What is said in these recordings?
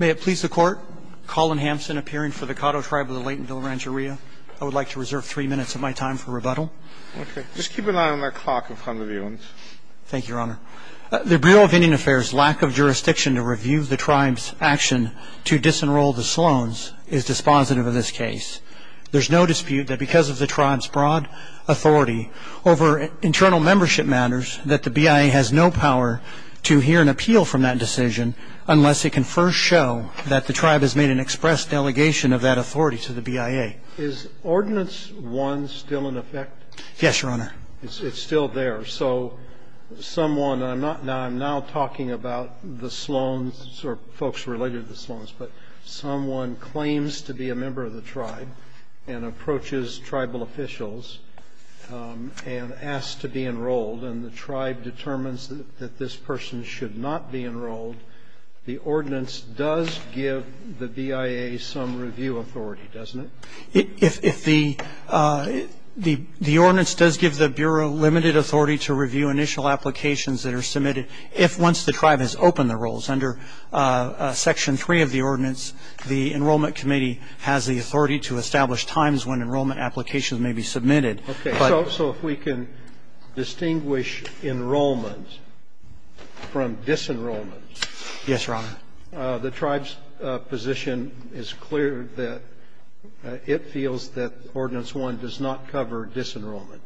May it please the Court, Colin Hampson appearing for the Cahto Tribe of the Laytonville Rancheria. I would like to reserve three minutes of my time for rebuttal. Okay. Just keep an eye on that clock in front of you. Thank you, Your Honor. The Bureau of Indian Affairs' lack of jurisdiction to review the tribe's action to disenroll the Sloans is dispositive of this case. There's no dispute that because of the tribe's broad authority over internal membership matters that the BIA has no power to hear an appeal from that decision unless it can first show that the tribe has made an express delegation of that authority to the BIA. Is Ordinance 1 still in effect? Yes, Your Honor. It's still there. So someone – I'm not – I'm now talking about the Sloans or folks related to the Sloans, but someone claims to be a member of the tribe and approaches tribal officials and asks to be enrolled, and the tribe determines that this person should not be enrolled, the ordinance does give the BIA some review authority, doesn't it? If the – the ordinance does give the Bureau limited authority to review initial applications that are submitted if once the tribe has opened the rolls. Under Section 3 of the ordinance, the Enrollment Committee has the authority to establish times when enrollment applications may be submitted. Okay. So if we can distinguish enrollment from disenrollment. Yes, Your Honor. The tribe's position is clear that it feels that Ordinance 1 does not cover disenrollment.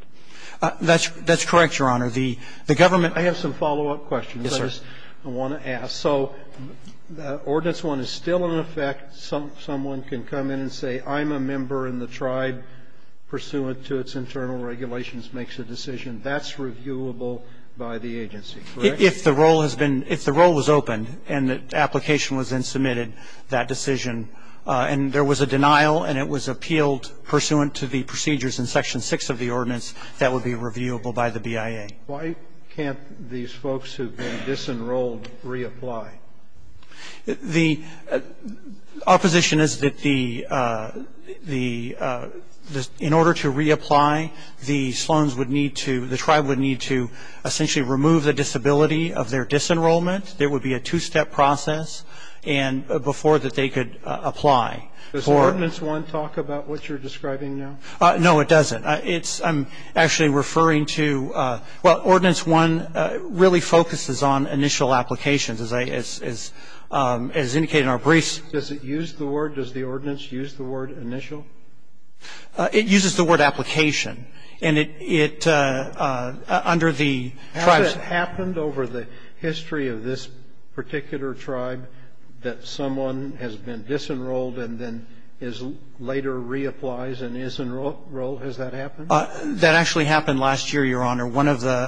That's correct, Your Honor. The government – I have some follow-up questions. Yes, sir. I want to ask. So Ordinance 1 is still in effect. Someone can come in and say, I'm a member and the tribe pursuant to its internal regulations makes a decision. That's reviewable by the agency, correct? If the roll has been – if the roll was opened and the application was then submitted, that decision – and there was a denial, and it was appealed pursuant to the procedures in Section 6 of the ordinance, that would be reviewable by the BIA. Why can't these folks who've been disenrolled reapply? The – our position is that the – in order to reapply, the Sloans would need to – the tribe would need to essentially remove the disability of their disenrollment. There would be a two-step process before that they could apply. Does Ordinance 1 talk about what you're describing now? No, it doesn't. It's – I'm actually referring to – well, as indicated in our briefs. Does it use the word – does the ordinance use the word initial? It uses the word application. And it – under the tribe's – Has it happened over the history of this particular tribe that someone has been disenrolled and then is – later reapplies and is enrolled? Has that happened? That actually happened last year, Your Honor. One of the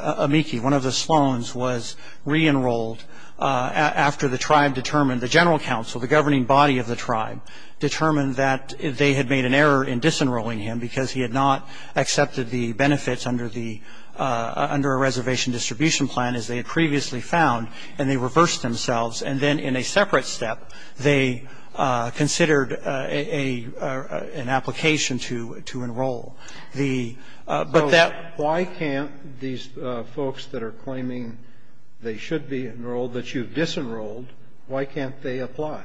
Sloans was reenrolled after the tribe determined – the general council, the governing body of the tribe, determined that they had made an error in disenrolling him because he had not accepted the benefits under the – under a reservation distribution plan, as they had previously found, and they reversed themselves. And then in a separate step, they considered an application to enroll. But that – So why can't these folks that are claiming they should be enrolled, that you've disenrolled, why can't they apply?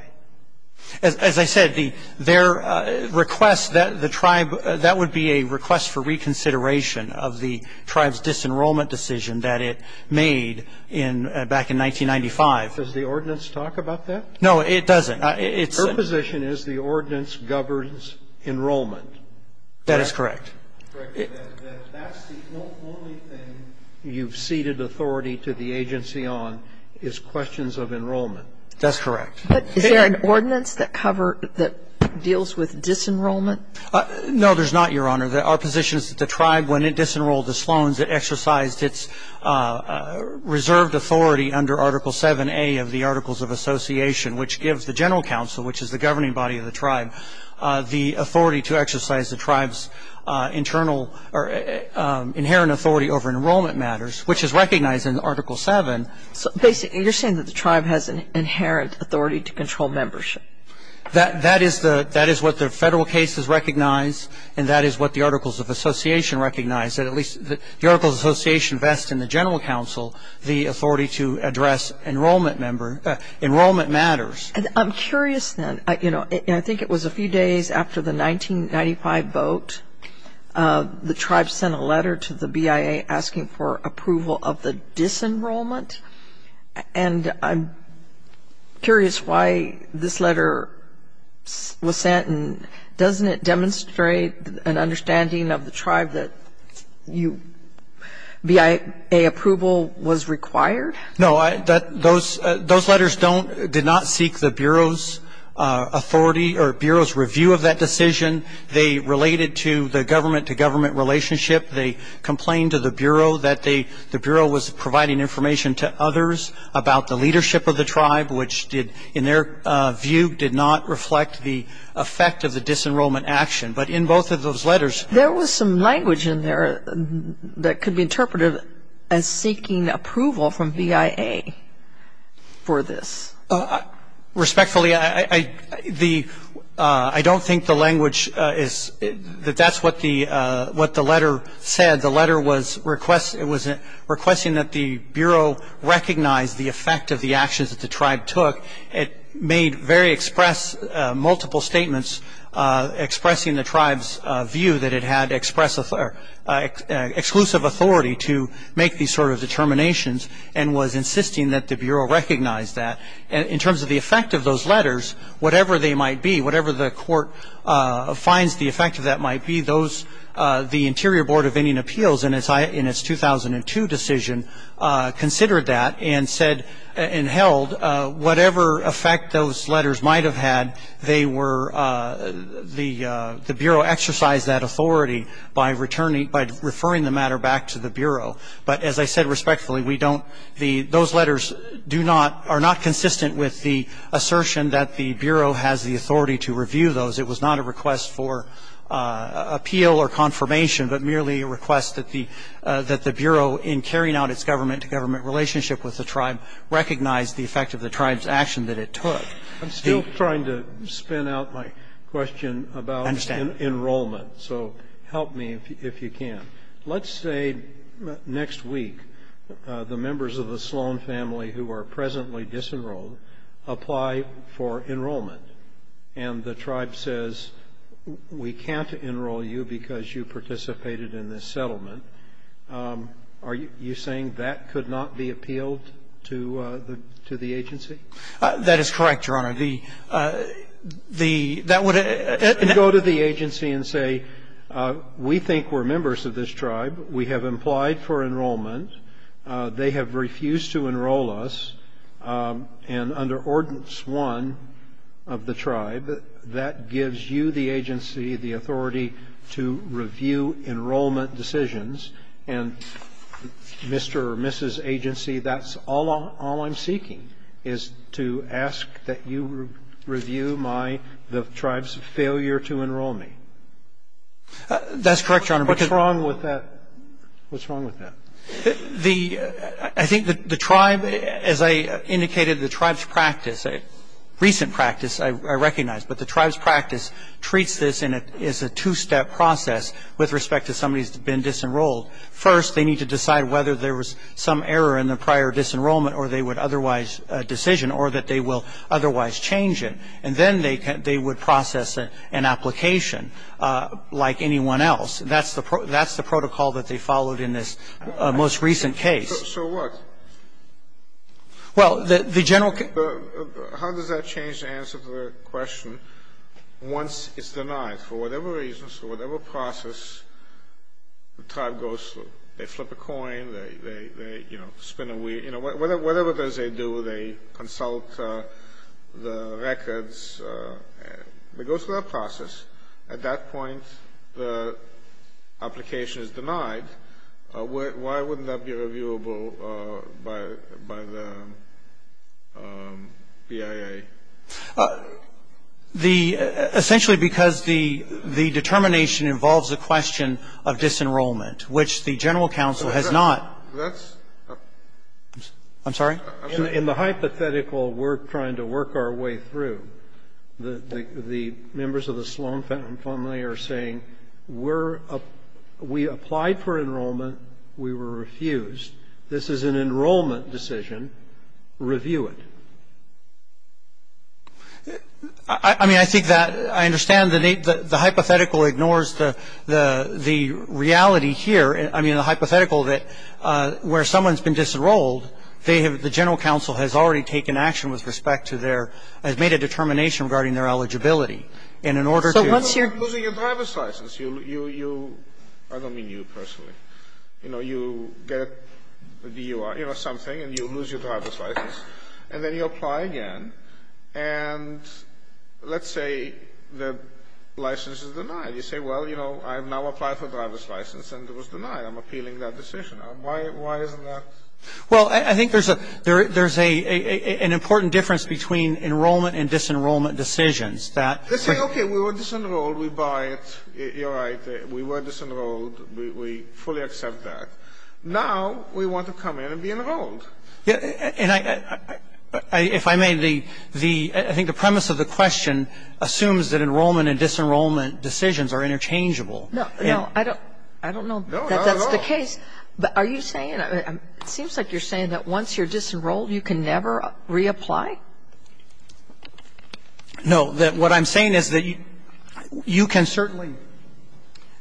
As I said, their request – the tribe – that would be a request for reconsideration of the tribe's disenrollment decision that it made in – back in 1995. Does the ordinance talk about that? No, it doesn't. Her position is the ordinance governs enrollment. That is correct. Correct. That's the only thing you've ceded authority to the agency on is questions of enrollment. That's correct. But is there an ordinance that cover – that deals with disenrollment? No, there's not, Your Honor. Our position is that the tribe, when it disenrolled the Sloans, it exercised its reserved authority under Article 7A of the Articles of Association, which gives the general council, which is the governing body of the tribe, the authority to exercise the tribe's internal – or inherent authority over enrollment matters, which is recognized in Article 7. So basically you're saying that the tribe has an inherent authority to control membership? That is what the federal case has recognized, and that is what the Articles of Association recognize, that at least the Articles of Association vest in the general council the authority to address enrollment matters. I'm curious, then. You know, I think it was a few days after the 1995 vote, the tribe sent a letter to the BIA asking for approval of the disenrollment. And I'm curious why this letter was sent, and doesn't it demonstrate an understanding of the tribe that BIA approval was required? No. Those letters did not seek the Bureau's authority or Bureau's review of that decision. They related to the government-to-government relationship. They complained to the Bureau that the Bureau was providing information to others about the leadership of the tribe, which in their view did not reflect the effect of the disenrollment action. But in both of those letters – There was some language in there that could be interpreted as seeking approval from BIA for this. Respectfully, I don't think the language is – that that's what the letter said. The letter was requesting that the Bureau recognize the effect of the actions that the tribe took. It made very express – multiple statements expressing the tribe's view that it had exclusive authority to make these sort of determinations and was insisting that the Bureau recognize that. In terms of the effect of those letters, whatever they might be, whatever the court finds the effect of that might be, the Interior Board of Indian Appeals in its 2002 decision considered that and said and held whatever effect those letters might have had, they were – the Bureau exercised that authority by referring the matter back to the Bureau. But as I said respectfully, we don't – those letters do not – are not consistent with the assertion that the Bureau has the authority to review those. It was not a request for appeal or confirmation, but merely a request that the – that the Bureau, in carrying out its government-to-government relationship with the tribe, recognize the effect of the tribe's action that it took. I'm still trying to spin out my question about enrollment. I understand. So help me if you can. Let's say next week the members of the Sloan family who are presently disenrolled apply for enrollment, and the tribe says, we can't enroll you because you participated in this settlement. Are you saying that could not be appealed to the agency? That is correct, Your Honor. The – that would – Go to the agency and say, we think we're members of this tribe. We have applied for enrollment. They have refused to enroll us. And under Ordinance 1 of the tribe, that gives you, the agency, the authority to review enrollment decisions. And, Mr. or Mrs. Agency, that's all I'm seeking, is to ask that you review my – the tribe's failure to enroll me. That's correct, Your Honor. What's wrong with that? The – I think the tribe, as I indicated, the tribe's practice, a recent practice I recognize, but the tribe's practice treats this as a two-step process with respect to somebody who's been disenrolled. First, they need to decide whether there was some error in the prior disenrollment or they would otherwise decision or that they will otherwise change it. And then they would process an application like anyone else. That's the protocol that they followed in this most recent case. So what? Well, the general – How does that change the answer to the question once it's denied? For whatever reasons, for whatever process, the tribe goes through. They flip a coin. They, you know, spin a wheel. You know, whatever it is they do, they consult the records. They go through that process. At that point, the application is denied. Why wouldn't that be reviewable by the BIA? The – essentially because the determination involves a question of disenrollment, which the general counsel has not. That's – I'm sorry? In the hypothetical we're trying to work our way through, the members of the Sloan family are saying we're – we applied for enrollment. We were refused. This is an enrollment decision. Review it. I mean, I think that – I understand the hypothetical ignores the reality here. I mean, the hypothetical that where someone's been disenrolled, they have – the general counsel has already taken action with respect to their – has made a determination regarding their eligibility. And in order to – So once you're – Losing your driver's license. You – I don't mean you personally. You know, you get a DUI or something, and you lose your driver's license. And then you apply again, and let's say the license is denied. You say, well, you know, I've now applied for a driver's license, and it was denied. I'm appealing that decision. Why isn't that? Well, I think there's a – there's an important difference between enrollment and disenrollment decisions that – Let's say, okay, we were disenrolled. We buy it. You're right. We were disenrolled. We fully accept that. Now we want to come in and be enrolled. And I – if I may, the – I think the premise of the question assumes that enrollment and disenrollment decisions are interchangeable. No, no. I don't know that that's the case. No, not at all. But are you saying – it seems like you're saying that once you're disenrolled, you can never reapply? No. That what I'm saying is that you can certainly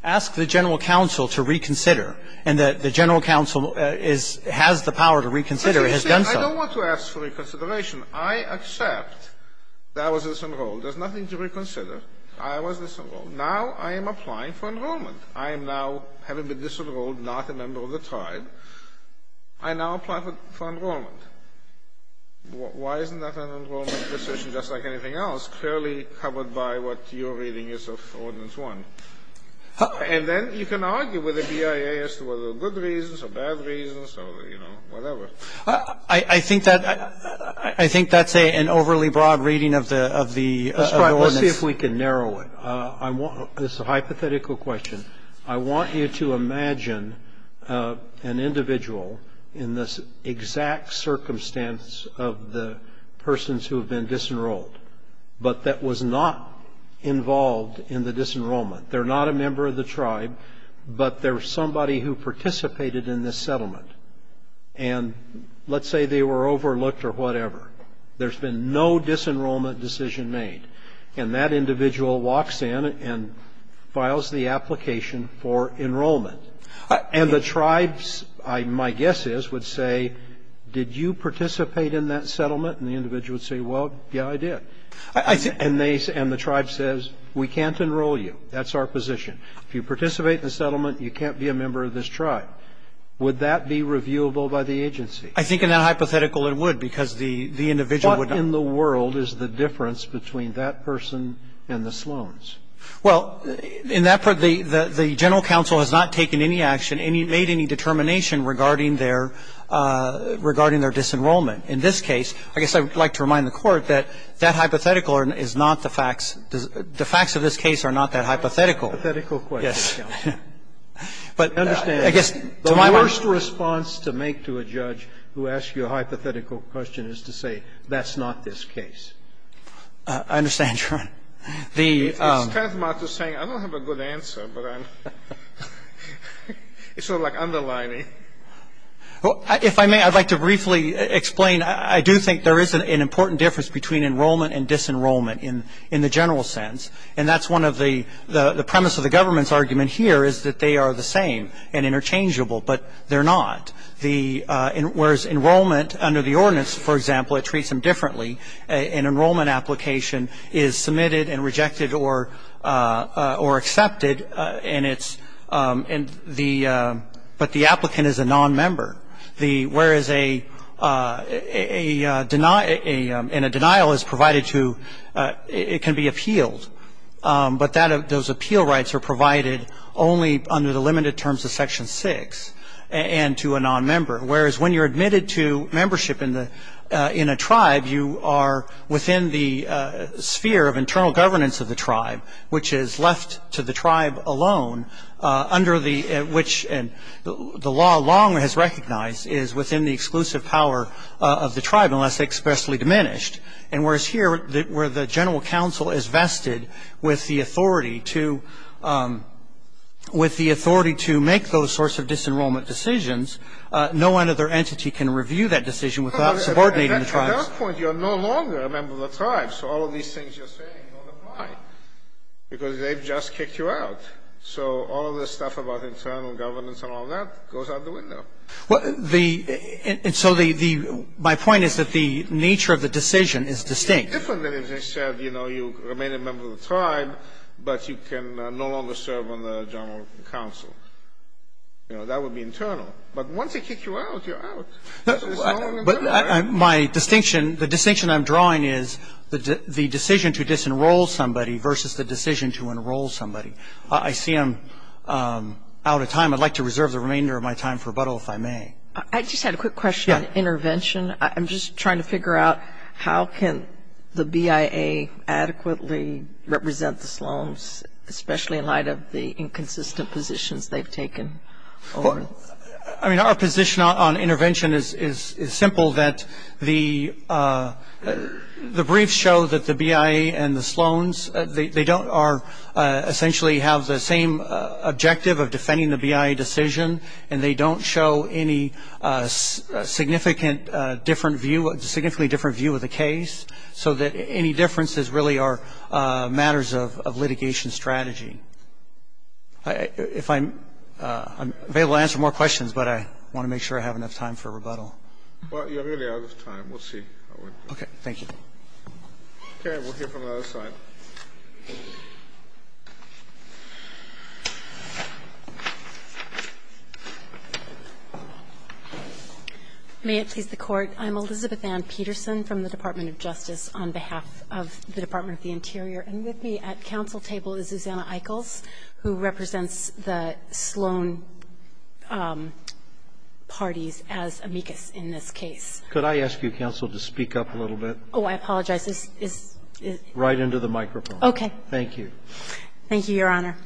ask the general counsel to reconsider and that the general counsel is – has the power to reconsider. It has done so. I don't want to ask for reconsideration. I accept that I was disenrolled. There's nothing to reconsider. I was disenrolled. Now I am applying for enrollment. I am now, having been disenrolled, not a member of the tribe. I now apply for enrollment. Why isn't that an enrollment decision just like anything else, clearly covered by what your reading is of Ordinance 1? And then you can argue with the BIA as to whether there are good reasons or bad reasons or, you know, whatever. I think that's an overly broad reading of the Ordinance. Let's see if we can narrow it. This is a hypothetical question. I want you to imagine an individual in this exact circumstance of the persons who have been disenrolled but that was not involved in the disenrollment. They're not a member of the tribe, but they're somebody who participated in this settlement. And let's say they were overlooked or whatever. There's been no disenrollment decision made. And that individual walks in and files the application for enrollment. And the tribes, my guess is, would say, did you participate in that settlement? And the individual would say, well, yeah, I did. And the tribe says, we can't enroll you. That's our position. If you participate in the settlement, you can't be a member of this tribe. Would that be reviewable by the agency? I think in that hypothetical it would because the individual would not be. And that's the difference between that person and the Sloans. Well, in that part, the general counsel has not taken any action, made any determination regarding their disenrollment. In this case, I guess I would like to remind the Court that that hypothetical is not the facts. The facts of this case are not that hypothetical. It's a hypothetical question, counsel. Yes. But I guess to my mind. The worst response to make to a judge who asks you a hypothetical question is to say that's not this case. I understand, Your Honor. It's kind of smart to say, I don't have a good answer, but I'm. It's sort of like underlining. If I may, I'd like to briefly explain. I do think there is an important difference between enrollment and disenrollment in the general sense. And that's one of the premise of the government's argument here is that they are the same and interchangeable, but they're not. Whereas enrollment under the ordinance, for example, it treats them differently. An enrollment application is submitted and rejected or accepted, and it's the ‑‑ but the applicant is a nonmember. Whereas a denial is provided to ‑‑ it can be appealed, but those appeal rights are provided only under the limited terms of Section 6 and to a nonmember. Whereas when you're admitted to membership in a tribe, you are within the sphere of internal governance of the tribe, which is left to the tribe alone under the ‑‑ which the law long has recognized is within the exclusive power of the tribe unless expressly diminished. And whereas here where the general counsel is vested with the authority to make those sorts of disenrollment decisions, no other entity can review that decision without subordinating the tribes. At that point, you're no longer a member of the tribe, so all of these things you're saying don't apply because they've just kicked you out. So all of this stuff about internal governance and all that goes out the window. And so the ‑‑ my point is that the nature of the decision is distinct. It's different than if they said, you know, you remain a member of the tribe, but you can no longer serve on the general counsel. You know, that would be internal. But once they kick you out, you're out. My distinction, the distinction I'm drawing is the decision to disenroll somebody versus the decision to enroll somebody. I see I'm out of time. I'd like to reserve the remainder of my time for rebuttal if I may. I just had a quick question on intervention. I'm just trying to figure out how can the BIA adequately represent the Sloans, especially in light of the inconsistent positions they've taken? I mean, our position on intervention is simple, that the briefs show that the BIA and the Sloans, they don't essentially have the same objective of defending the BIA decision, and they don't show any significantly different view of the case, so that any differences really are matters of litigation strategy. If I'm able to answer more questions, but I want to make sure I have enough time for rebuttal. Well, you're really out of time. We'll see. Okay. Thank you. Okay. We'll hear from the other side. May it please the Court. I'm Elizabeth Ann Peterson from the Department of Justice on behalf of the Department of the Interior, and with me at counsel table is Susanna Eichels, who represents the Sloan parties as amicus in this case. Could I ask you, counsel, to speak up a little bit? Oh, I apologize. Right into the microphone. Okay. Thank you. Thank you, Your Honor.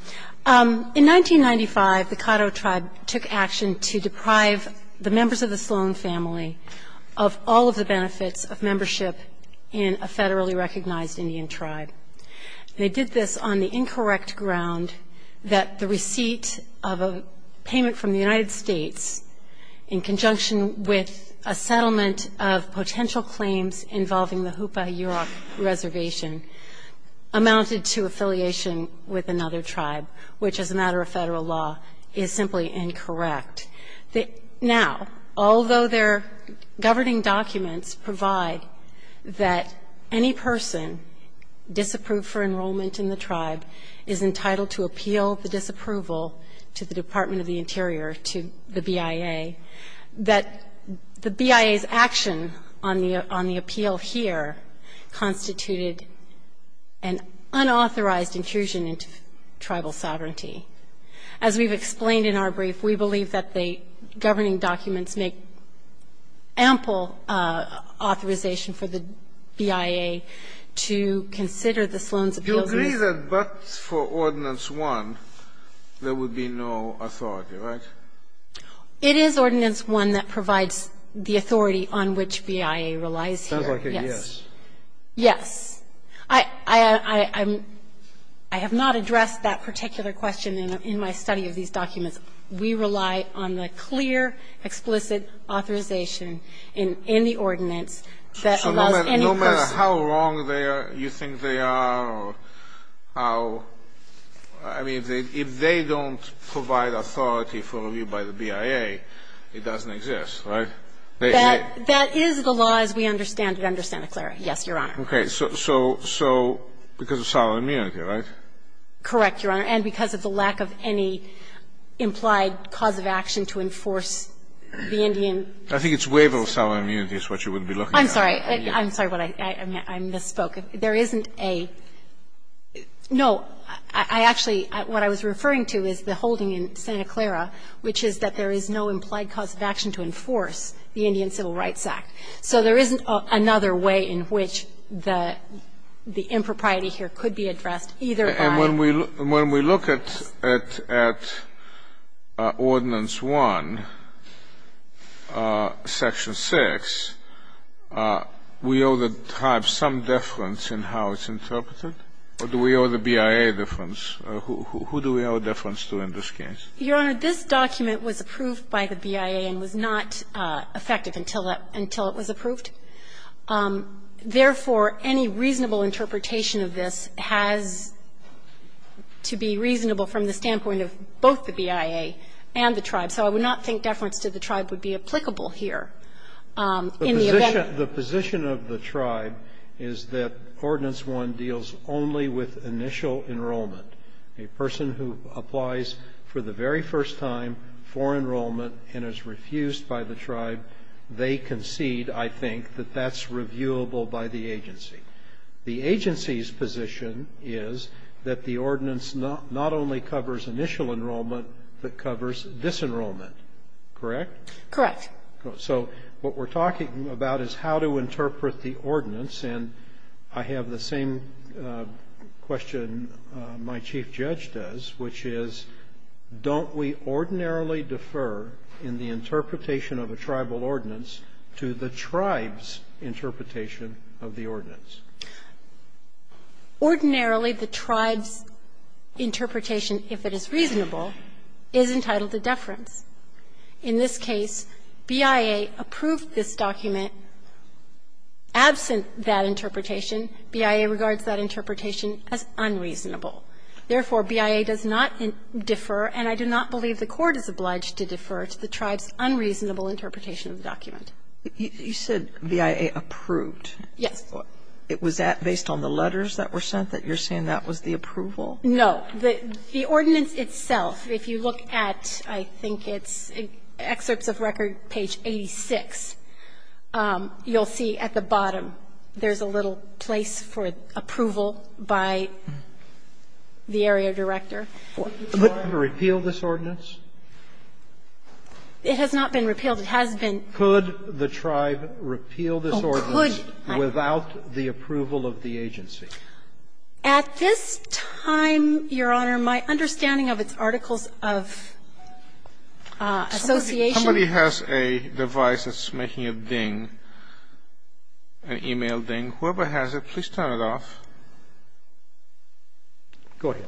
In 1995, the Caddo tribe took action to deprive the members of the Sloan family of all of the benefits of membership in a federally recognized Indian tribe. They did this on the incorrect ground that the receipt of a payment from the United States in conjunction with a settlement of potential claims involving the Hoopa-Yurok reservation amounted to affiliation with another tribe, which as a matter of federal law is simply incorrect. Now, although their governing documents provide that any person disapproved for enrollment in the tribe is entitled to appeal the disapproval to the Department of the Interior or to the BIA, that the BIA's action on the appeal here constituted an unauthorized intrusion into tribal sovereignty. As we've explained in our brief, we believe that the governing documents make ample authorization for the BIA to consider the Sloan's appeal. Do you agree that but for Ordinance 1, there would be no authority, right? It is Ordinance 1 that provides the authority on which BIA relies here, yes. Sounds like a yes. Yes. I have not addressed that particular question in my study of these documents. We rely on the clear, explicit authorization in the ordinance that allows any person to No matter how wrong you think they are or how, I mean, if they don't provide authority for review by the BIA, it doesn't exist, right? That is the law as we understand it under Santa Clara, yes, Your Honor. Okay. So because of solid immunity, right? Correct, Your Honor. And because of the lack of any implied cause of action to enforce the Indian I think it's waiver of solid immunity is what you would be looking at. I'm sorry. I'm sorry. I misspoke. There isn't a no. I actually, what I was referring to is the holding in Santa Clara, which is that there is no implied cause of action to enforce the Indian Civil Rights Act. So there isn't another way in which the impropriety here could be addressed, either by And when we look at Ordinance 1, Section 6, we owe the tribe some deference in how it's interpreted, or do we owe the BIA deference? Who do we owe deference to in this case? Your Honor, this document was approved by the BIA and was not effective until it was approved. Therefore, any reasonable interpretation of this has to be reasonable from the standpoint of both the BIA and the tribe. So I would not think deference to the tribe would be applicable here. In the event The position of the tribe is that Ordinance 1 deals only with initial enrollment. A person who applies for the very first time for enrollment and is refused by the tribe, they concede, I think, that that's reviewable by the agency. The agency's position is that the ordinance not only covers initial enrollment, but covers disenrollment. Correct? Correct. So what we're talking about is how to interpret the ordinance. And I have the same question my chief judge does, which is, don't we ordinarily defer in the interpretation of a tribal ordinance to the tribe's interpretation of the ordinance? Ordinarily, the tribe's interpretation, if it is reasonable, is entitled to deference. In this case, BIA approved this document absent that interpretation. BIA regards that interpretation as unreasonable. Therefore, BIA does not defer, and I do not believe the Court is obliged to defer to the tribe's unreasonable interpretation of the document. You said BIA approved. Yes. Was that based on the letters that were sent, that you're saying that was the approval? No. The ordinance itself, if you look at, I think it's excerpts of record page 86, you'll see at the bottom there's a little place for approval by the area director. Could the tribe repeal this ordinance? It has not been repealed. It has been. Could the tribe repeal this ordinance without the approval of the agency? At this time, Your Honor, my understanding of its articles of association Somebody has a device that's making a ding, an email ding. Whoever has it, please turn it off. Go ahead.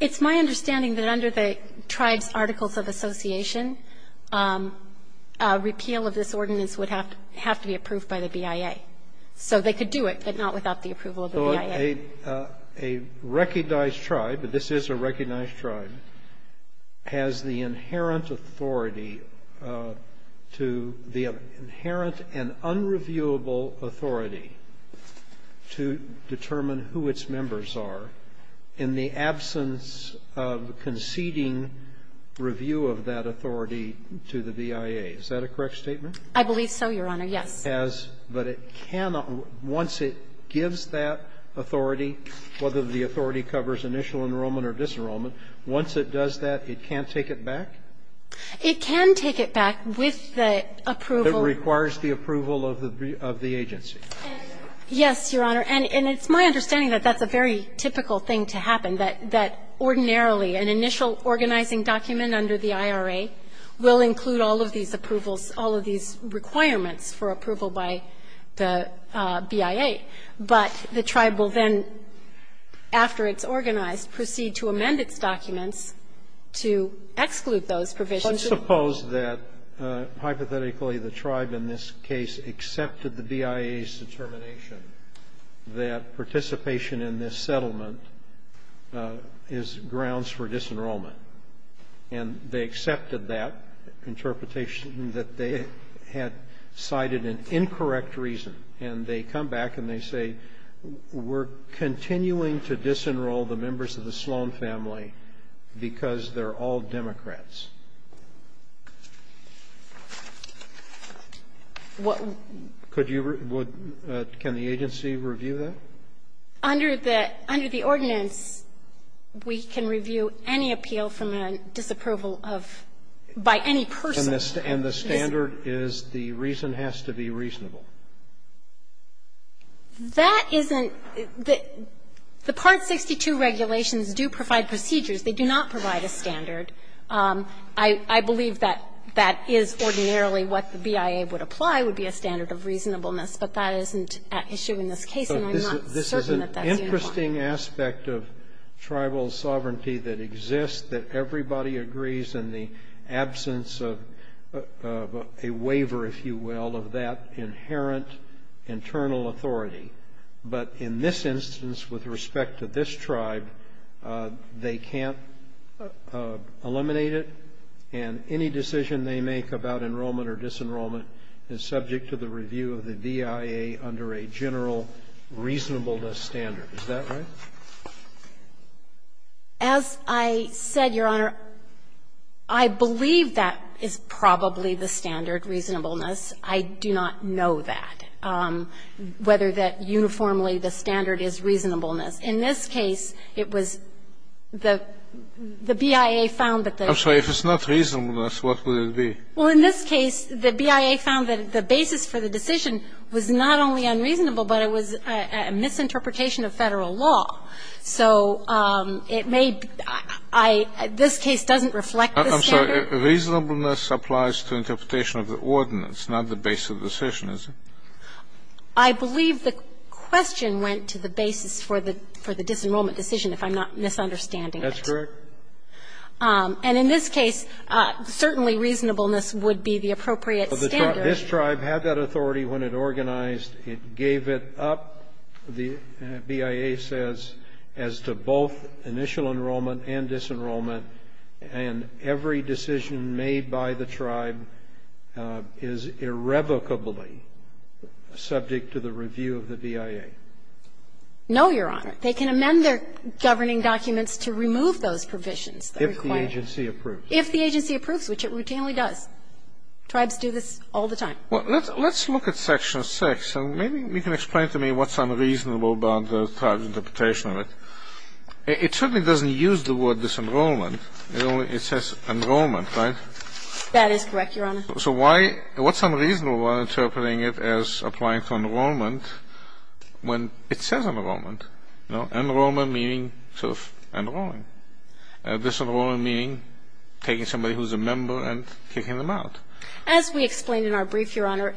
It's my understanding that under the tribe's articles of association, a repeal of this ordinance would have to be approved by the BIA. So a recognized tribe, but this is a recognized tribe, has the inherent authority to the inherent and unreviewable authority to determine who its members are in the absence of conceding review of that authority to the BIA. Is that a correct statement? I believe so, Your Honor, yes. But it cannot, once it gives that authority, whether the authority covers initial enrollment or disenrollment, once it does that, it can't take it back? It can take it back with the approval. It requires the approval of the agency. Yes, Your Honor. And it's my understanding that that's a very typical thing to happen, that ordinarily an initial organizing document under the IRA will include all of these approvals, all of these requirements for approval by the BIA, but the tribe will then, after it's organized, proceed to amend its documents to exclude those provisions. But suppose that, hypothetically, the tribe in this case accepted the BIA's determination that participation in this settlement is grounds for disenrollment, and they accepted that interpretation, that they had cited an incorrect reason, and they come back and they say, we're continuing to disenroll the members of the Sloan family because they're all Democrats. What would you do? Can the agency review that? Under the ordinance, we can review any appeal from a disapproval of by any person. And the standard is the reason has to be reasonable. That isn't the the Part 62 regulations do provide procedures. They do not provide a standard. I believe that that is ordinarily what the BIA would apply, would be a standard of reasonableness, but that isn't at issue in this case. And I'm not certain that that's uniform. This is an interesting aspect of tribal sovereignty that exists, that everybody agrees in the absence of a waiver, if you will, of that inherent internal authority. But in this instance, with respect to this tribe, they can't eliminate it. And any decision they make about enrollment or disenrollment is subject to the review of the BIA under a general reasonableness standard. Is that right? As I said, Your Honor, I believe that is probably the standard, reasonableness. I do not know that, whether that uniformly the standard is reasonableness. In this case, it was the BIA found that the the basis for the decision was reasonable. The reasonableness of the decision was not only unreasonable, but it was a misinterpretation of Federal law. So it may be that this case doesn't reflect the standard. I'm sorry. Reasonableness applies to interpretation of the ordinance, not the basis of the decision, is it? I believe the question went to the basis for the disenrollment decision, if I'm not misunderstanding it. That's correct. And in this case, certainly reasonableness would be the appropriate standard. This tribe had that authority when it organized. It gave it up, the BIA says, as to both initial enrollment and disenrollment. And every decision made by the tribe is irrevocably subject to the review of the BIA. No, Your Honor. They can amend their governing documents to remove those provisions that are required. If the agency approves. If the agency approves, which it routinely does. Tribes do this all the time. Well, let's look at Section 6 and maybe you can explain to me what's unreasonable about the tribe's interpretation of it. It certainly doesn't use the word disenrollment. It says enrollment, right? That is correct, Your Honor. So why what's unreasonable about interpreting it as applying for enrollment when it says enrollment? You know, enrollment meaning sort of enrolling. Disenrollment meaning taking somebody who's a member and kicking them out. As we explained in our brief, Your Honor,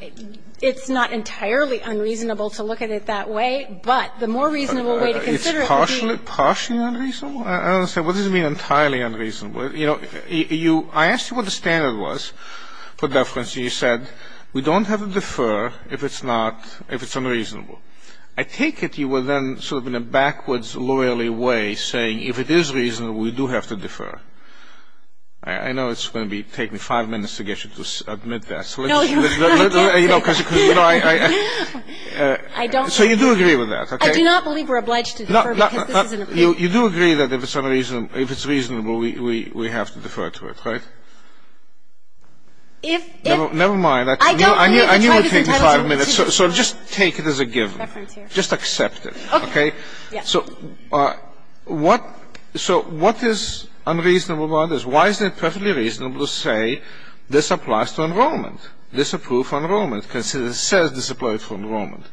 it's not entirely unreasonable to look at it that way. But the more reasonable way to consider it would be. It's partially unreasonable? I don't understand. What does it mean entirely unreasonable? You know, I asked you what the standard was for deference. And you said we don't have to defer if it's not, if it's unreasonable. I take it you were then sort of in a backwards, loyally way saying if it is reasonable, we do have to defer. I know it's going to be taking five minutes to get you to admit that. No, Your Honor. I can't say that. So you do agree with that, okay? I do not believe we're obliged to defer because this isn't a brief. You do agree that if it's unreasonable, if it's reasonable, we have to defer to it, right? Never mind. I knew it would take five minutes. So just take it as a given. Just accept it, okay? So what is unreasonable about this? Why is it perfectly reasonable to say this applies to enrollment, disapproved enrollment, because it says this applies to enrollment?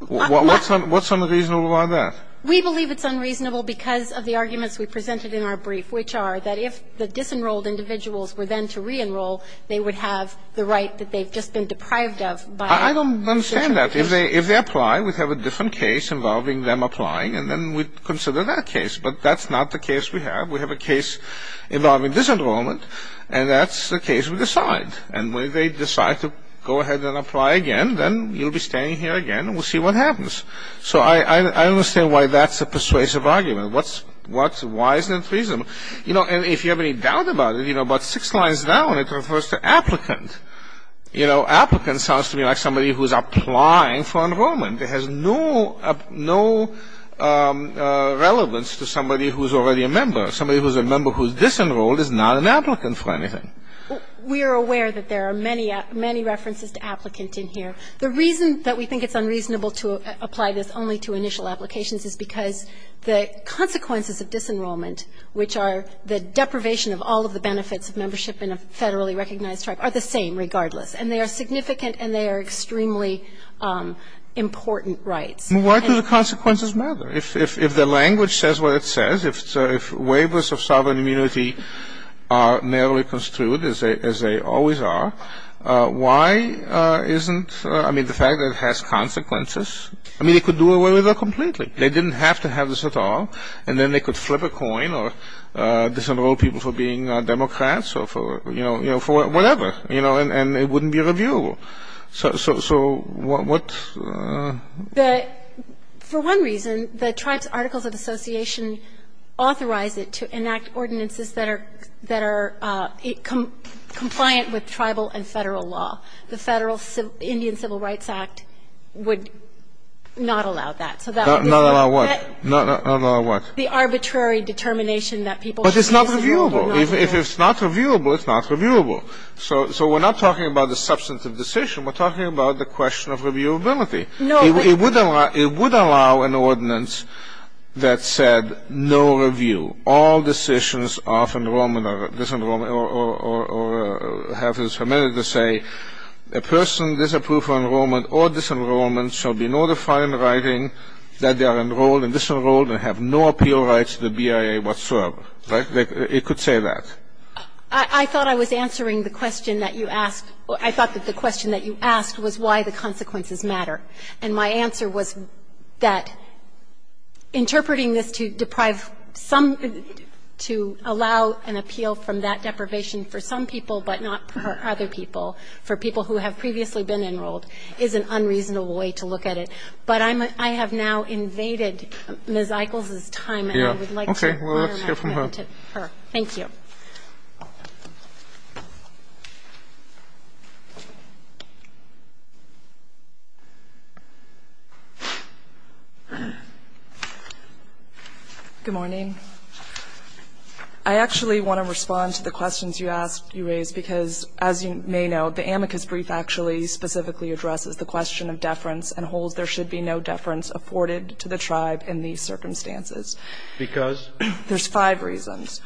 What's unreasonable about that? We believe it's unreasonable because of the arguments we presented in our brief, which are that if the disenrolled individuals were then to reenroll, they would have the right that they've just been deprived of by the district police. I don't understand that. If they apply, we'd have a different case involving them applying, and then we'd consider that case. But that's not the case we have. We have a case involving disenrollment, and that's the case we decide. And when they decide to go ahead and apply again, then you'll be standing here again, and we'll see what happens. So I don't understand why that's a persuasive argument. Why isn't it reasonable? You know, and if you have any doubt about it, you know, about six lines down, it refers to applicant. You know, applicant sounds to me like somebody who is applying for enrollment. It has no relevance to somebody who is already a member. Somebody who is a member who is disenrolled is not an applicant for anything. We are aware that there are many references to applicant in here. The reason that we think it's unreasonable to apply this only to initial applications is because the consequences of disenrollment, which are the deprivation of all of the benefits of membership in a federally recognized tribe, are the same regardless. And they are significant, and they are extremely important rights. Why do the consequences matter? If the language says what it says, if waivers of sovereign immunity are narrowly construed, as they always are, why isn't the fact that it has consequences? I mean, they could do away with it completely. They didn't have to have this at all. And then they could flip a coin or disenroll people for being Democrats or for, you know, for whatever, you know, and it wouldn't be reviewable. So what? The – for one reason, the tribes articles of association authorize it to enact ordinances that are – that are compliant with tribal and Federal law. The Federal Indian Civil Rights Act would not allow that. So that would disqualify it. Not allow what? Not allow what? The arbitrary determination that people should be disenrolled or not. But it's not reviewable. If it's not reviewable, it's not reviewable. So we're not talking about the substantive decision. We're talking about the question of reviewability. No, but – It would allow – it would allow an ordinance that said no review. It would allow an order to do all decisions of enrollment or disenrollment or have it submitted to say a person disapproved of enrollment or disenrollment shall be notified in writing that they are enrolled and disenrolled and have no appeal rights to the BIA whatsoever. Right? It could say that. I thought I was answering the question that you asked. I thought that the question that you asked was why the consequences matter. And my answer was that interpreting this to deprive some to allow an appeal from that deprivation for some people but not for other people, for people who have previously been enrolled, is an unreasonable way to look at it. But I have now invaded Ms. Eichel's time. Okay. Let's hear from her. Thank you. Good morning. I actually want to respond to the questions you asked, you raised, because as you may know, the amicus brief actually specifically addresses the question of deference and holds there should be no deference afforded to the tribe in these circumstances. Because? There's five reasons.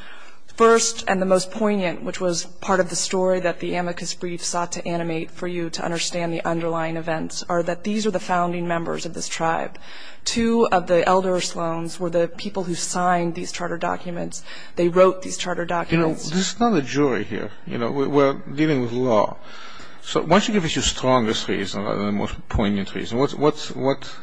First, and the most poignant, which was part of the story that the amicus brief sought to animate for you to understand the underlying events, are that these are the founding members of this tribe. Two of the elder slones were the people who signed these charter documents. They wrote these charter documents. You know, this is not a jury here. You know, we're dealing with law. So why don't you give us your strongest reason rather than the most poignant reason. What's, what's, what's?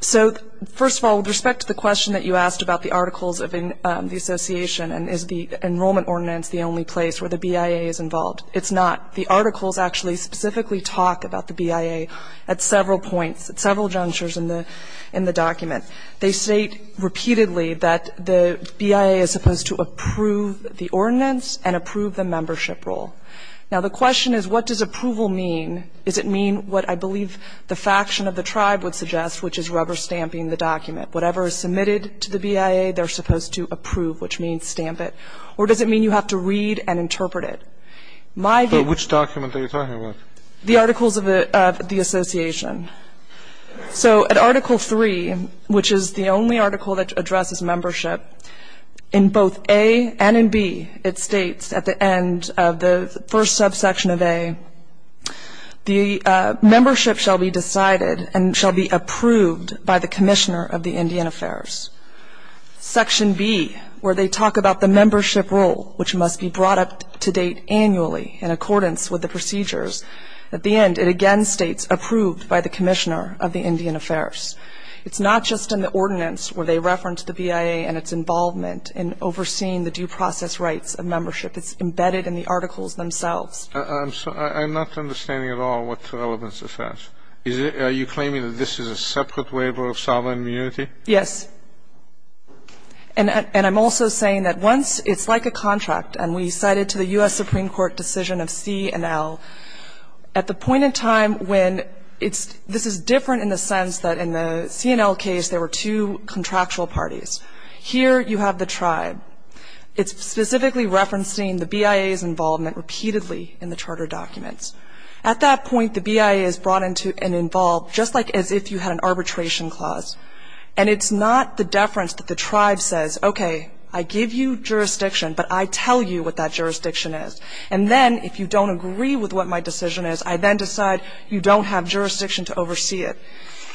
So first of all, with respect to the question that you asked about the articles of the Association and is the enrollment ordinance the only place where the BIA is involved, it's not. The articles actually specifically talk about the BIA at several points, at several junctures in the, in the document. They state repeatedly that the BIA is supposed to approve the ordinance and approve the membership role. Now, the question is what does approval mean? Does it mean what I believe the faction of the tribe would suggest, which is rubber stamping the document? Whatever is submitted to the BIA, they're supposed to approve, which means stamp it. Or does it mean you have to read and interpret it? My view. But which document are you talking about? The articles of the, of the Association. So at Article 3, which is the only article that addresses membership, in both A and in B, it states at the end of the first subsection of A, the membership shall be decided and shall be approved by the Commissioner of the Indian Affairs. Section B, where they talk about the membership role, which must be brought up to date annually in accordance with the procedures, at the end it again states approved by the Commissioner of the Indian Affairs. It's not just in the ordinance where they reference the BIA and its involvement in overseeing the due process rights of membership. It's embedded in the articles themselves. I'm not understanding at all what relevance this has. Are you claiming that this is a separate waiver of sovereign immunity? Yes. And I'm also saying that once it's like a contract, and we cited to the U.S. Supreme Court decision of C and L, at the point in time when it's, this is different in the sense that in the C and L case there were two contractual parties. Here you have the tribe. It's specifically referencing the BIA's involvement repeatedly in the charter documents. At that point the BIA is brought into and involved just like as if you had an arbitration clause. And it's not the deference that the tribe says, okay, I give you jurisdiction, but I tell you what that jurisdiction is. And then if you don't agree with what my decision is, I then decide you don't have jurisdiction to oversee it.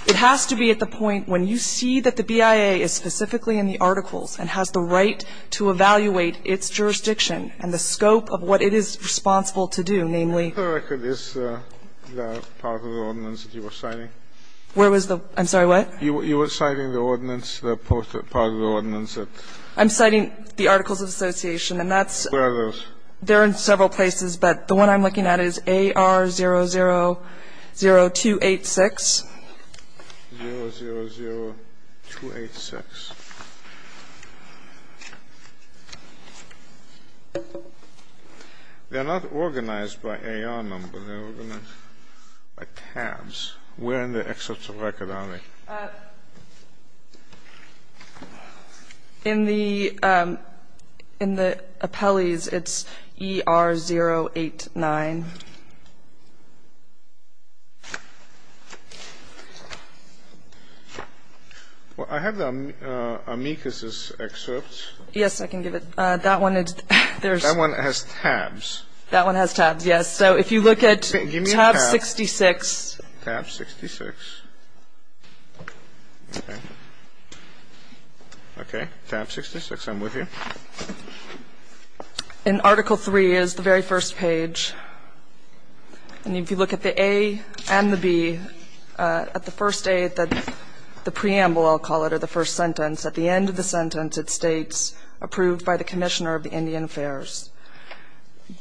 It has to be at the point when you see that the BIA is specifically in the articles and has the right to evaluate its jurisdiction and the scope of what it is responsible to do, namely. The record is part of the ordinance that you were citing? Where was the? I'm sorry, what? You were citing the ordinance, the part of the ordinance that? I'm citing the Articles of Association, and that's. Where are those? They're in several places, but the one I'm looking at is AR000286. AR000286. They're not organized by AR number. They're organized by tabs. Where in the excerpts of record are they? In the appellees, it's ER089. Well, I have the amicus's excerpts. Yes, I can give it. That one is. That one has tabs. That one has tabs, yes. So if you look at tab 66. Tab 66. Okay. Tab 66, I'm with you. In Article III is the very first page. And if you look at the A and the B, at the first A, the preamble, I'll call it, or the first sentence, at the end of the sentence it states, approved by the Commissioner of the Indian Affairs.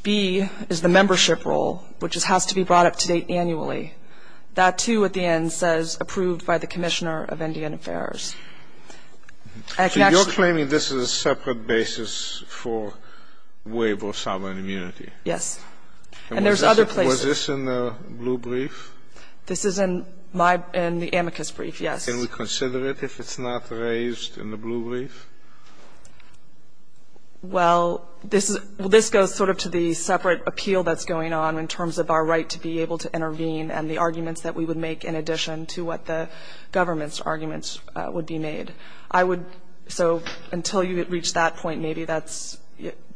B is the membership role, which has to be brought up to date annually. That, too, at the end, says approved by the Commissioner of Indian Affairs. So you're claiming this is a separate basis for waiver of sovereign immunity? Yes. And there's other places. Was this in the blue brief? This is in the amicus brief, yes. Can we consider it if it's not raised in the blue brief? Well, this goes sort of to the separate appeal that's going on in terms of our right to be able to intervene and the arguments that we would make in addition to what the government's arguments would be made. I would, so until you reach that point, maybe that's,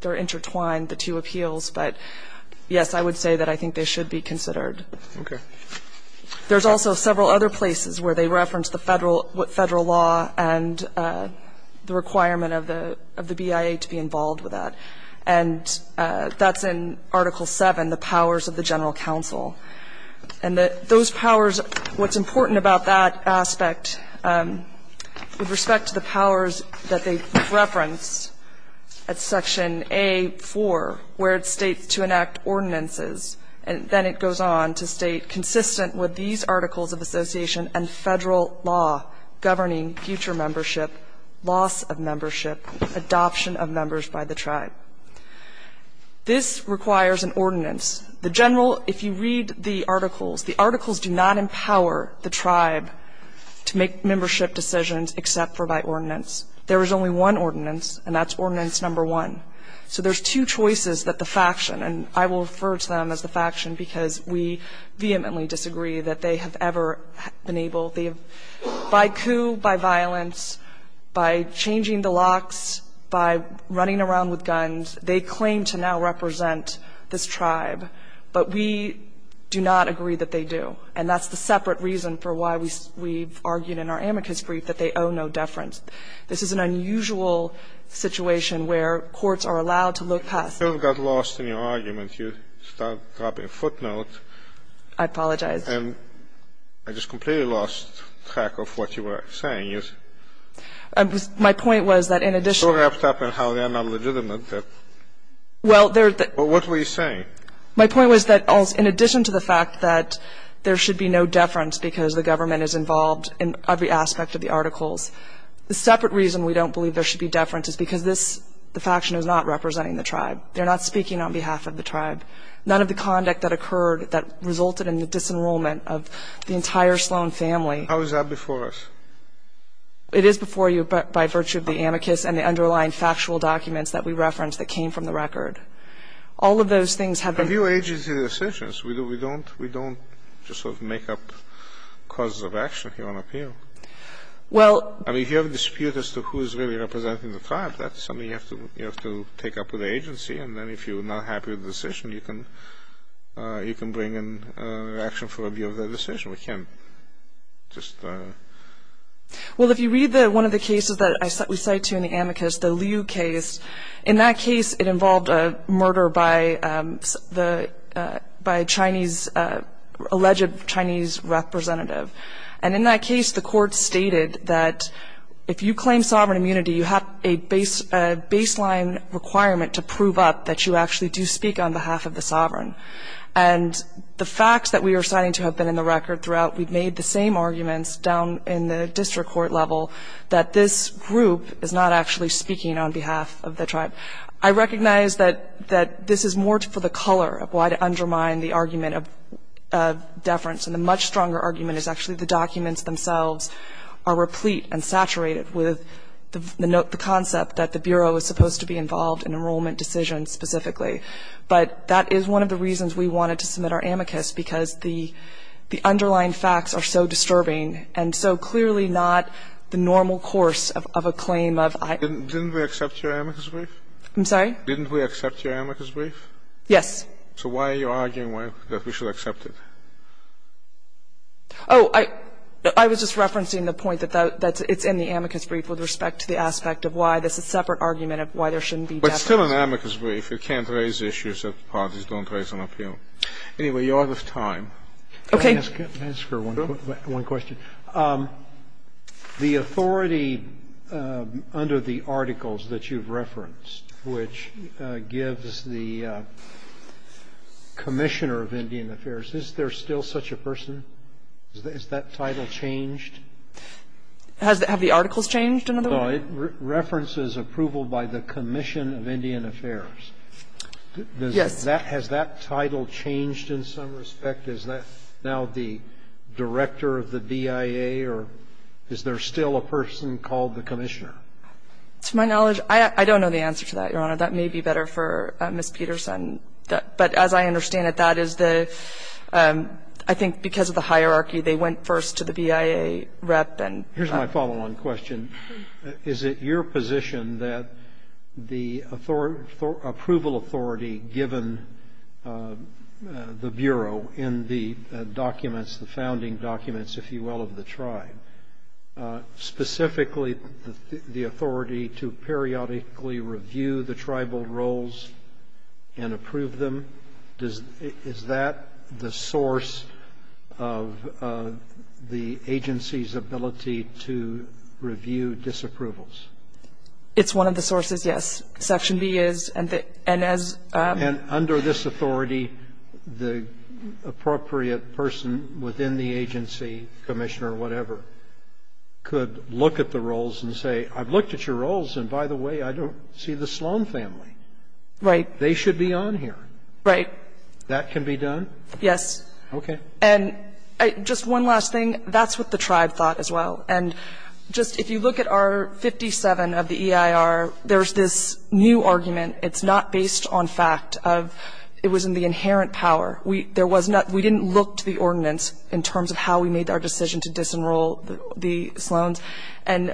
they're intertwined, the two appeals. But, yes, I would say that I think they should be considered. Okay. There's also several other places where they reference the federal law and the requirement of the BIA to be involved with that. And that's in Article VII, the powers of the general counsel. And those powers, what's important about that aspect with respect to the powers that they reference at Section A-4, where it states to enact ordinances, and then it goes on to state consistent with these articles of association and federal law governing future membership, loss of membership, adoption of members by the tribe. This requires an ordinance. The general, if you read the articles, the articles do not empower the tribe to make membership decisions except for by ordinance. There is only one ordinance, and that's Ordinance No. 1. So there's two choices that the faction, and I will refer to them as the faction because we vehemently disagree that they have ever been able, by coup, by violence, by changing the locks, by running around with guns, they claim to now represent this tribe. But we do not agree that they do. And that's the separate reason for why we've argued in our amicus brief that they owe no deference. This is an unusual situation where courts are allowed to look past it. Scalia. You still got lost in your argument. You start dropping footnotes. I apologize. And I just completely lost track of what you were saying. My point was that in addition to that. Well, what were you saying? My point was that in addition to the fact that there should be no deference because the government is involved in every aspect of the articles, the separate reason we don't believe there should be deference is because this, the faction is not representing the tribe. They're not speaking on behalf of the tribe. None of the conduct that occurred that resulted in the disenrollment of the entire Sloan family. How is that before us? It is before you by virtue of the amicus and the underlying facts. It is before you by virtue of the facts. It's not before you by virtue of the factual documents that we referenced that came from the record. All of those things have been do agency decisions. We don't, we don't just sort of make up cause of action here on appeal. Well. I mean, if you have a dispute as to who is really representing the tribe, that's something you have to, you have to take up with the agency. And then if you're not happy with the decision, you can bring in action for review of the decision. We can't just. Well, if you read one of the cases that we cited in the amicus, the Liu case, in that case it involved a murder by a Chinese, alleged Chinese representative. And in that case the court stated that if you claim sovereign immunity, you have a baseline requirement to prove up that you actually do speak on behalf of the sovereign. And the facts that we are citing to have been in the record throughout, we've made the same arguments down in the district court level that this group is not actually speaking on behalf of the tribe. I recognize that this is more for the color of why to undermine the argument of deference. And the much stronger argument is actually the documents themselves are replete and saturated with the concept that the Bureau is supposed to be involved in enrollment decisions specifically. But that is one of the reasons we wanted to submit our amicus, because the underlying facts are so disturbing and so clearly not the normal course of a claim of I. Didn't we accept your amicus brief? I'm sorry? Didn't we accept your amicus brief? Yes. So why are you arguing that we should accept it? Oh, I was just referencing the point that it's in the amicus brief with respect to the aspect of why. That's a separate argument of why there shouldn't be deference. But it's still an amicus brief. You can't raise issues that parties don't raise on appeal. Anyway, you're out of time. Okay. Can I ask her one question? Sure. The authority under the articles that you've referenced, which gives the Commissioner of Indian Affairs, is there still such a person? Has that title changed? Have the articles changed in other words? No, it references approval by the Commission of Indian Affairs. Yes. Has that title changed in some respect? Is that now the Director of the BIA, or is there still a person called the Commissioner? To my knowledge, I don't know the answer to that, Your Honor. That may be better for Ms. Peterson. But as I understand it, that is the, I think because of the hierarchy, they went first to the BIA rep. Here's my follow-on question. Is it your position that the approval authority given the Bureau in the documents, the founding documents, if you will, of the tribe, specifically the authority to periodically review the tribal roles and approve them, is that the source of the agency's ability to review disapprovals? It's one of the sources, yes. Section B is. And under this authority, the appropriate person within the agency, commissioner or whatever, could look at the roles and say, I've looked at your roles and, by the way, I don't see the Sloan family. Right. They should be on here. Right. That can be done? Yes. Okay. And just one last thing. That's what the tribe thought as well. And just if you look at R57 of the EIR, there's this new argument. It's not based on fact. It was in the inherent power. We didn't look to the ordinance in terms of how we made our decision to disenroll the Sloans. And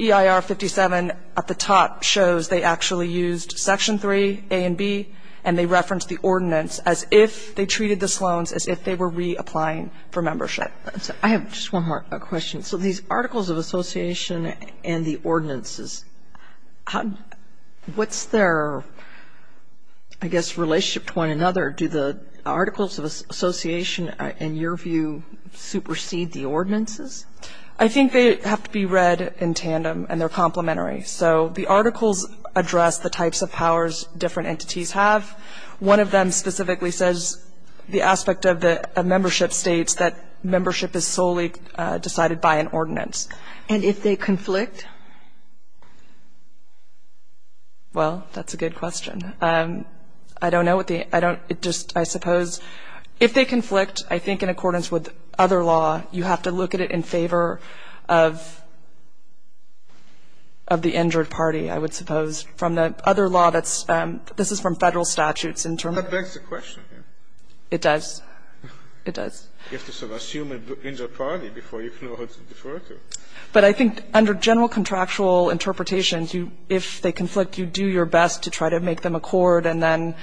EIR 57 at the top shows they actually used Section 3, A and B, and they referenced the ordinance as if they treated the Sloans as if they were reapplying for membership. I have just one more question. So these articles of association and the ordinances, what's their, I guess, relationship to one another? Do the articles of association, in your view, supersede the ordinances? I think they have to be read in tandem and they're complementary. So the articles address the types of powers different entities have. One of them specifically says the aspect of membership states that membership is solely decided by an ordinance. And if they conflict? Well, that's a good question. I don't know what the, I don't, it just, I suppose, if they conflict, I think in accordance with other law, you have to look at it in favor of the injured party, I would suppose. But I think under general contractual interpretation, if they conflict, you do your best to try to make them accord. And then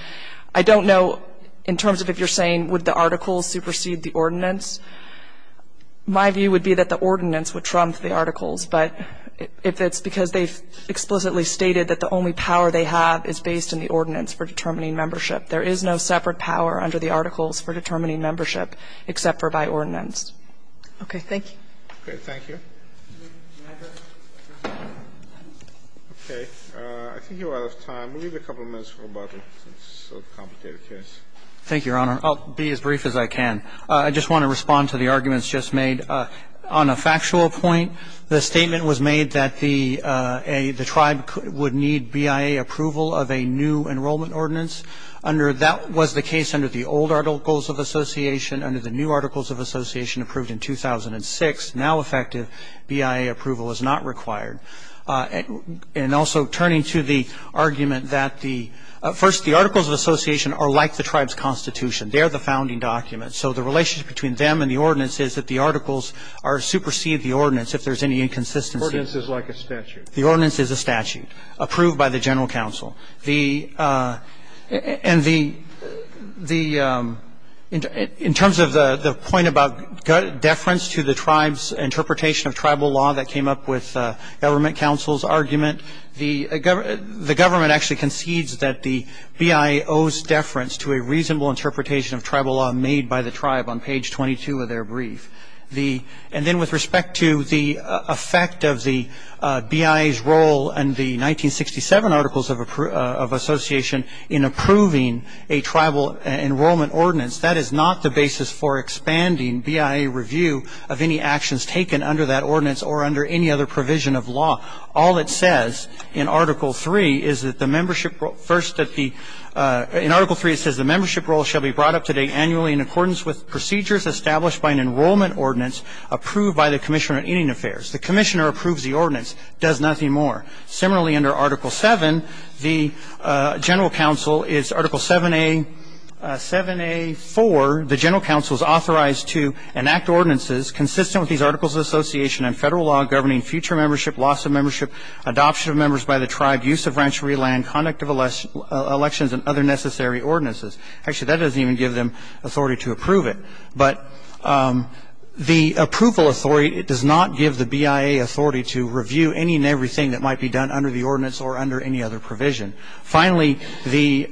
I don't know in terms of if you're saying would the articles supersede the ordinance. My view would be that the ordinance would trump the articles. But if it's because they've explicitly stated that the only way to make them accord is to make them in accord, then the only power they have is based in the ordinance for determining membership. There is no separate power under the articles for determining membership except for by ordinance. Okay. Thank you. Okay. Thank you. Okay. I think you are out of time. We'll give you a couple minutes for rebuttal since it's such a complicated case. Thank you, Your Honor. I'll be as brief as I can. I just want to respond to the arguments just made. On a factual point, the statement was made that the tribe would need BIA approval of a new enrollment ordinance. That was the case under the old Articles of Association. Under the new Articles of Association approved in 2006, now effective BIA approval is not required. And also turning to the argument that the first, the Articles of Association are like the tribe's constitution. They are the founding documents. So the relationship between them and the ordinance is that the articles supersede the ordinance if there is any inconsistency. The ordinance is like a statute. The ordinance is a statute approved by the general counsel. And the, in terms of the point about deference to the tribe's interpretation of tribal law that came up with government counsel's argument, the government actually concedes that the BIA owes deference to a reasonable interpretation of tribal law made by the tribe on page 22 of their brief. And then with respect to the effect of the BIA's role in the 1967 Articles of Association in approving a tribal enrollment ordinance, that is not the basis for expanding BIA review of any actions taken under that ordinance or under any other provision of law. All it says in Article 3 is that the membership role, first that the, in Article 3 it says the membership role shall be brought up to date annually in accordance with procedures established by an enrollment ordinance approved by the Commissioner of Indian Affairs. The Commissioner approves the ordinance, does nothing more. Similarly, under Article 7, the general counsel is, Article 7A, 7A4, the general counsel is authorized to enact ordinances consistent with these Articles of Association and federal law governing future membership, loss of membership, adoption of members by the tribe, use of ranchery land, conduct of elections, and other necessary ordinances. Actually, that doesn't even give them authority to approve it. But the approval authority does not give the BIA authority to review any and everything that might be done under the ordinance or under any other provision. Finally, the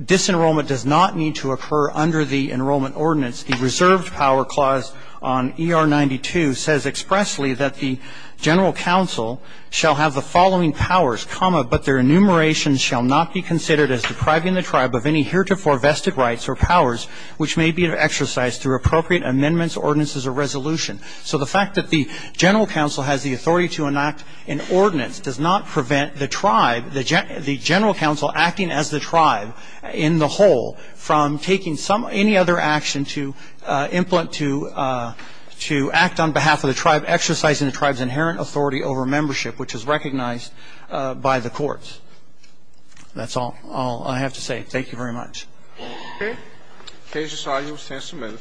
disenrollment does not need to occur under the enrollment ordinance. The reserved power clause on ER92 says expressly that the general counsel shall have the following powers, but their enumeration shall not be considered as depriving the tribe of any heretofore vested rights or powers which may be exercised through appropriate amendments, ordinances, or resolution. So the fact that the general counsel has the authority to enact an ordinance does not prevent the tribe, the general counsel acting as the tribe in the whole from taking any other action to act on behalf of the tribe, exercising the tribe's inherent authority over membership, which is recognized by the courts. That's all I have to say. Thank you very much. Thank you.